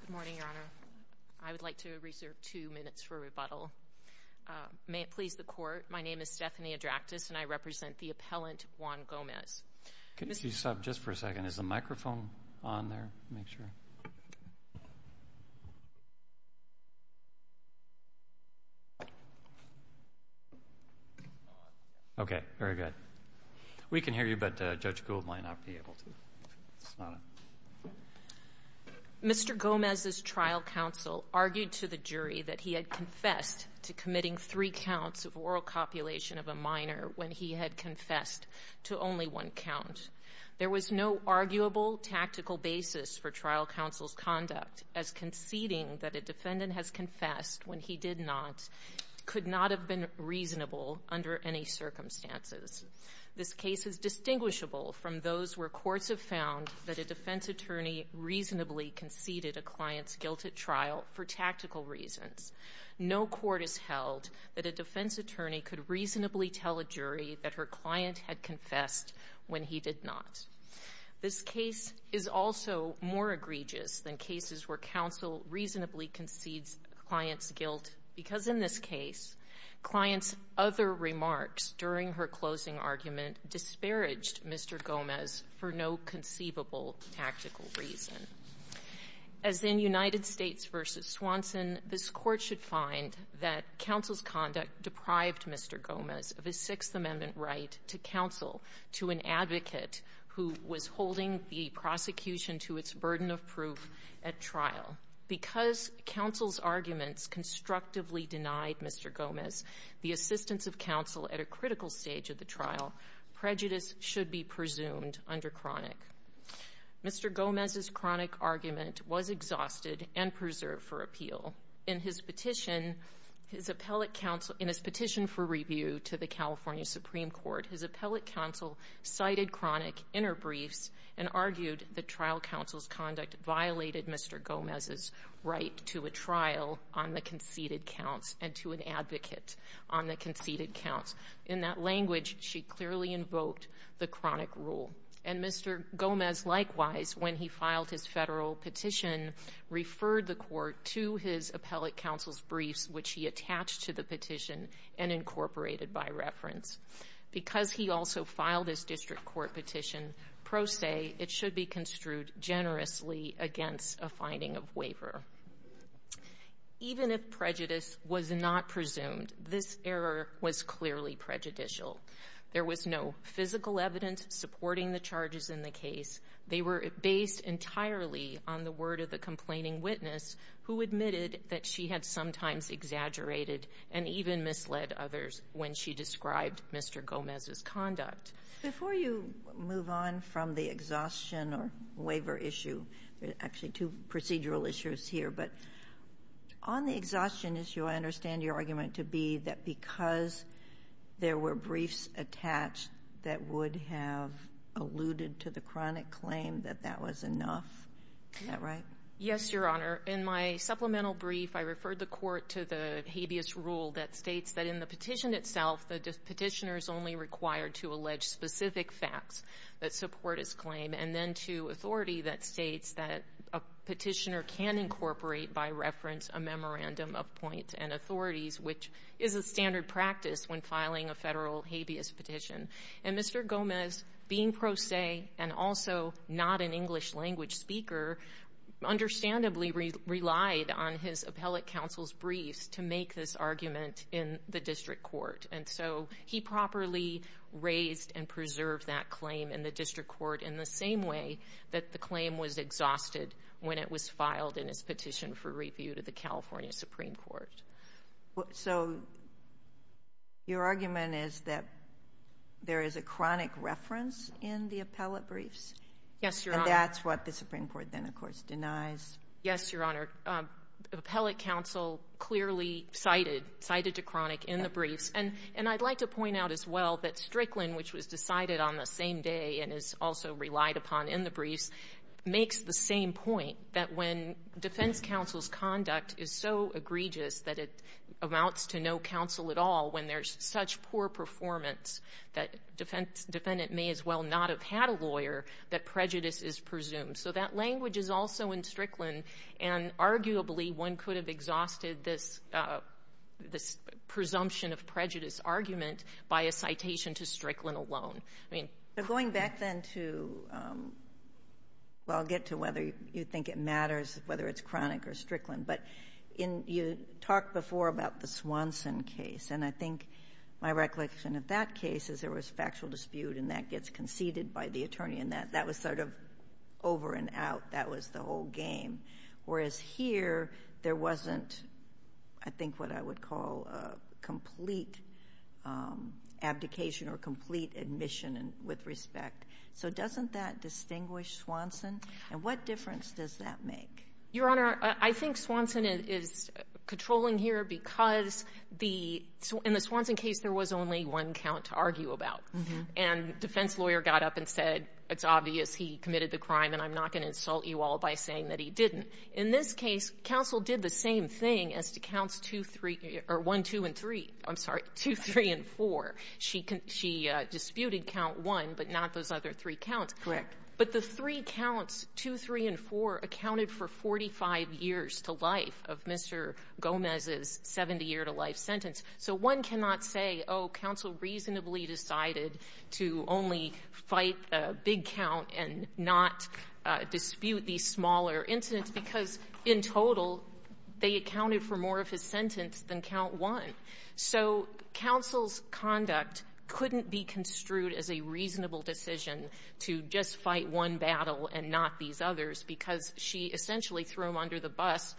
Good morning, Your Honor. I would like to reserve two minutes for rebuttal. May it please the Court, my name is Stephanie Adractas and I represent the appellant, Juan Gomez. Could you stop just for a second? Is the microphone on there to make sure? Okay, very good. We can hear you but Judge Gould might not be able to. Mr. Gomez's trial counsel argued to the jury that he had confessed to committing three counts of oral copulation of a minor when he had confessed to only one count. There was no arguable tactical basis for trial counsel's conduct as conceding that a defendant has confessed when he did not could not have been reasonable under any circumstances. This case is distinguishable from those where courts have found that a defense attorney reasonably conceded a client's guilt at trial for tactical reasons. No court has held that a defense attorney could reasonably tell a jury that her client had confessed when he did not. This case is also more egregious than cases where counsel reasonably concedes a client's guilt because in this case, client's other remarks during her closing argument disparaged Mr. Gomez for no conceivable tactical reason. As in United States v. Swanson, this Court should find that counsel's conduct deprived Mr. Gomez of his Sixth Amendment right to counsel to an advocate who was holding the prosecution to its burden of proof at trial. Because counsel's arguments constructively denied Mr. Gomez the assistance of counsel at a critical stage of the trial, prejudice should be presumed under chronic. Mr. Gomez's chronic argument was exhausted and preserved for appeal. In his petition for review to the California Supreme Court, his appellate counsel cited chronic interbriefs and argued that trial counsel's conduct violated Mr. Gomez's right to a trial on the conceded counts and to an advocate on the conceded counts. In that language, she clearly invoked the chronic rule. And Mr. Gomez, likewise, when he filed his Federal petition, referred the Court to his appellate counsel's briefs, which he attached to the petition and incorporated by reference. Because he also filed his district court petition, pro se, it should be construed generously against a finding of waiver. Even if prejudice was not presumed, this error was clearly prejudicial. There was no physical evidence supporting the charges in the case. They were based entirely on the word of the complaining witness, who admitted that she had sometimes exaggerated and even misled others when she described Mr. Gomez's conduct. Before you move on from the exhaustion or waiver issue, there are actually two procedural issues here. But on the exhaustion issue, I understand your argument to be that because there were briefs attached that would have alluded to the chronic claim that that was enough. Is that right? Yes, Your Honor. In my supplemental brief, I referred the Court to the habeas rule that states that in the petition itself, the petitioner is only required to allege specific facts that support his claim, and then to authority that states that a petitioner can incorporate by reference a memorandum of point and authorities, which is a standard practice when filing a Federal habeas petition. And Mr. Gomez, being pro se and also not an English language speaker, understandably relied on his appellate counsel's briefs to make this argument in the district court. And so he properly raised and preserved that claim in the district court in the same way that the claim was exhausted when it was filed in his petition for review to the California Supreme Court. So your argument is that there is a chronic reference in the appellate briefs? Yes, Your Honor. And that's what the Supreme Court then, of course, denies? Yes, Your Honor. Appellate counsel clearly cited to chronic in the briefs. And I'd like to point out as well that Strickland, which was decided on the same day and is also relied upon in the briefs, makes the same point that when defense counsel's conduct is so egregious that it amounts to no counsel at all, when there's such poor performance that a defendant may as well not have had a lawyer, that prejudice is presumed. So that language is also in Strickland. And arguably, one could have exhausted this presumption of prejudice argument by a citation to Strickland alone. But going back then to — well, I'll get to whether you think it matters, whether it's chronic or Strickland. But in — you talked before about the Swanson case. And I think my recollection of that case is there was factual dispute, and that gets conceded by the attorney, and that was sort of over and out. That was the whole game. Whereas here, there wasn't, I think, what I would call a complete abdication or complete admission with respect. So doesn't that distinguish Swanson? And what difference does that make? Your Honor, I think Swanson is controlling here because the — in the Swanson case, there was only one count to argue about. And defense lawyer got up and said, it's obvious he committed the crime, and I'm not going to insult you all by saying that he didn't. In this case, counsel did the same thing as to counts 2, 3 — or 1, 2, and 3. I'm sorry, 2, 3, and 4. She disputed count 1, but not those other three counts. Correct. But the three counts, 2, 3, and 4, accounted for 45 years to life of Mr. Gomez's 70-year-to-life sentence. So one cannot say, oh, counsel reasonably decided to only fight a big count and not dispute these smaller incidents, because in total, they accounted for more of his sentence than count 1. So counsel's conduct couldn't be construed as a reasonable decision to just fight one battle and not these others, because she essentially threw him under the bus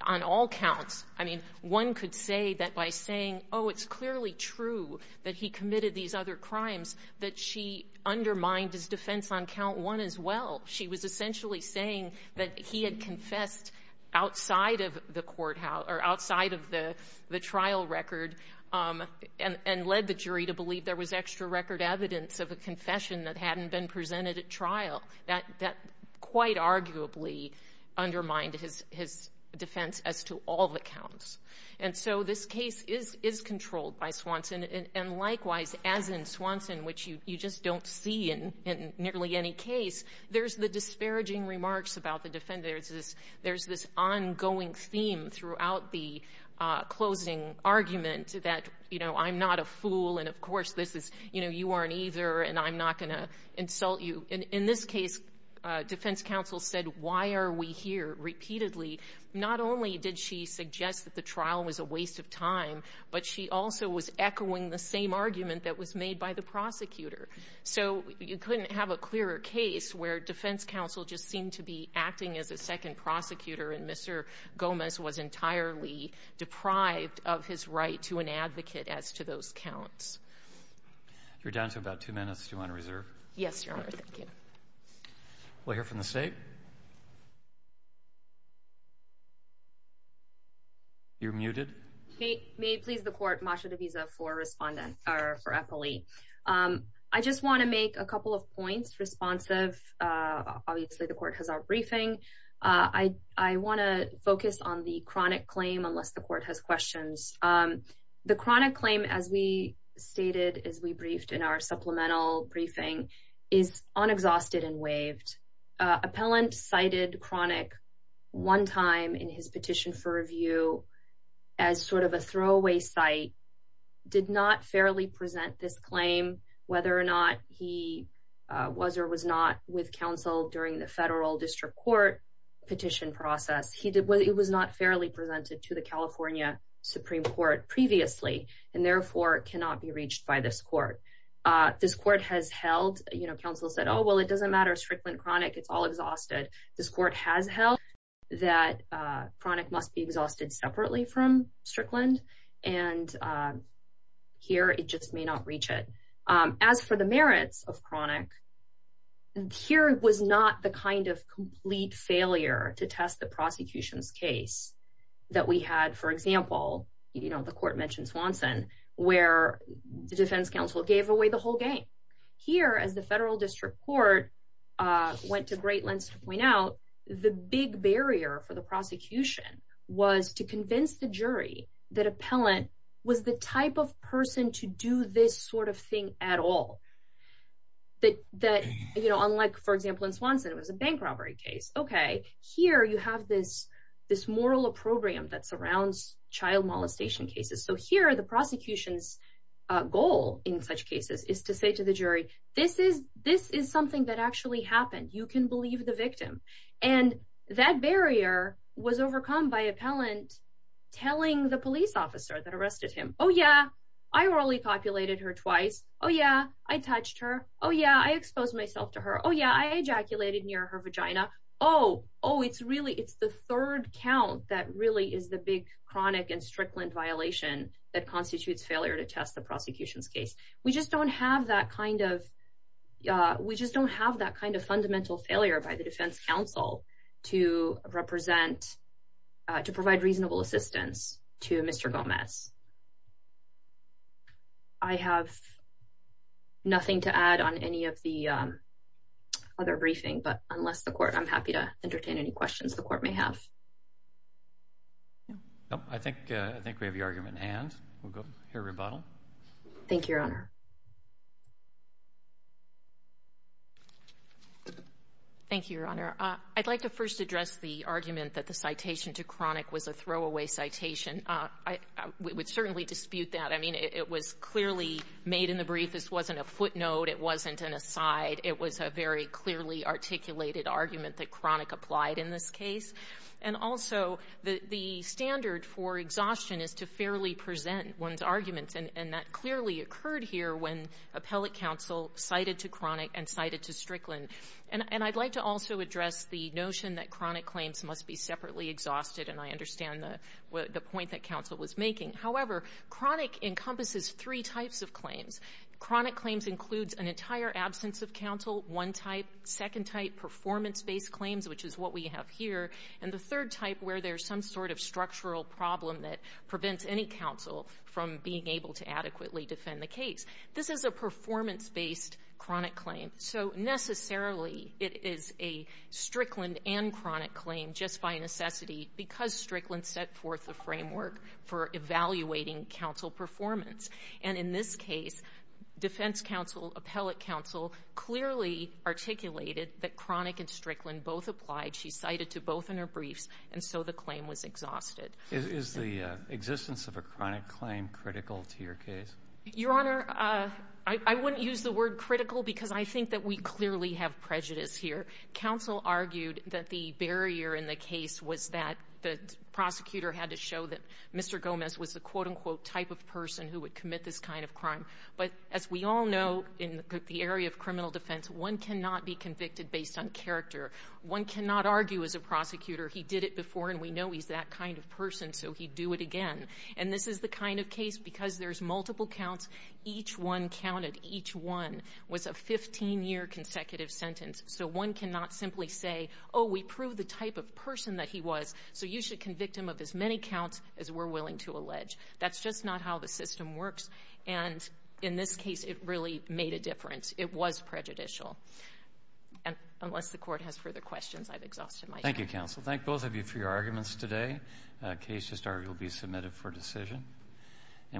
on all counts. I mean, one could say that by saying, oh, it's clearly true that he committed these other crimes, that she undermined his defense on count 1 as well. She was essentially saying that he had confessed outside of the court — or outside of the trial record and led the jury to believe there was extra record evidence of a confession that hadn't been presented at trial. That quite arguably undermined his defense as to all the counts. And so this case is controlled by Swanson. And likewise, as in Swanson, which you just don't see in nearly any case, there's the disparaging remarks about the defendants. There's this ongoing theme throughout the closing argument that, you know, I'm not a fool, and, of course, this is — you know, you aren't either, and I'm not going to insult you. In this case, defense counsel said, why are we here repeatedly? Not only did she suggest that the trial was a waste of time, but she also was echoing the same argument that was made by the prosecutor. So you couldn't have a clearer case where defense counsel just seemed to be acting as a second prosecutor and Mr. Gomez was entirely deprived of his right to an advocate as to those counts. You're down to about two minutes. Do you want to reserve? Yes, Your Honor. Thank you. We'll hear from the state. You're muted. May it please the court, Masha DeVisa for Epoli. I just want to make a couple of points, responsive. Obviously, the court has our briefing. I want to focus on the chronic claim, unless the court has questions. The chronic claim, as we stated, as we briefed in our supplemental briefing, is unexhausted and waived. Appellant cited chronic one time in his petition for review as sort of a throwaway site, did not fairly present this claim, whether or not he was or was not with counsel during the federal district court petition process. He did what it was not fairly presented to the California Supreme Court previously and therefore cannot be reached by this court. This court has held, you know, counsel said, oh, well, it doesn't matter. Strickland chronic, it's all exhausted. This court has held that chronic must be exhausted separately from Strickland. And here it just may not reach it. As for the merits of chronic, here was not the kind of complete failure to test the prosecution's case that we had. For example, you know, the court mentioned Swanson, where the defense counsel gave away the whole game. Here, as the federal district court went to great lengths to point out, the big barrier for the prosecution was to convince the jury that appellant was the type of person to do this sort of thing at all. That that, you know, unlike, for example, in Swanson, it was a bank robbery case. OK, here you have this this moral program that surrounds child molestation cases. So here are the prosecution's goal in such cases is to say to the jury, this is this is something that actually happened. You can believe the victim. And that barrier was overcome by appellant telling the police officer that arrested him. Oh, yeah. I really populated her twice. Oh, yeah. I touched her. Oh, yeah. I exposed myself to her. Oh, yeah. I ejaculated near her vagina. Oh, oh, it's really it's the third count. That really is the big chronic and Strickland violation that constitutes failure to test the prosecution's case. We just don't have that kind of we just don't have that kind of fundamental failure by the Defense Council to represent to provide reasonable assistance to Mr. Gomez. I have nothing to add on any of the other briefing, but unless the court I'm happy to entertain any questions the court may have. No, I think I think we have the argument and we'll go here rebuttal. Thank you, Your Honor. Thank you, Your Honor. I'd like to first address the argument that the citation to chronic was a throwaway citation. I would certainly dispute that. I mean, it was clearly made in the brief. This wasn't a footnote. It wasn't an aside. It was a very clearly articulated argument that chronic applied in this case. And also the standard for exhaustion is to fairly present one's arguments. And that clearly occurred here when appellate counsel cited to chronic and cited to Strickland. And I'd like to also address the notion that chronic claims must be separately exhausted. And I understand the point that counsel was making. However, chronic encompasses three types of claims. Chronic claims includes an entire absence of counsel, one type. Second type, performance-based claims, which is what we have here. And the third type where there's some sort of structural problem that prevents any counsel from being able to adequately defend the case. This is a performance-based chronic claim. So necessarily it is a Strickland and chronic claim just by necessity because Strickland set forth the framework for evaluating counsel performance. And in this case, defense counsel, appellate counsel clearly articulated that chronic and Strickland both applied. She cited to both in her briefs. And so the claim was exhausted. Is the existence of a chronic claim critical to your case? Your Honor, I wouldn't use the word critical because I think that we clearly have prejudice here. Counsel argued that the barrier in the case was that the prosecutor had to show that Mr. Gomez was the, quote-unquote, type of person who would commit this kind of crime. But as we all know in the area of criminal defense, one cannot be convicted based on character. One cannot argue as a prosecutor, he did it before and we know he's that kind of person, so he'd do it again. And this is the kind of case because there's multiple counts, each one counted, each one was a 15-year consecutive sentence. So one cannot simply say, oh, we proved the type of person that he was, so you should convict him of as many counts as we're willing to allege. That's just not how the system works. And in this case, it really made a difference. It was prejudicial. And unless the Court has further questions, I've exhausted my time. Thank you, counsel. Thank both of you for your arguments today. The case will be submitted for decision.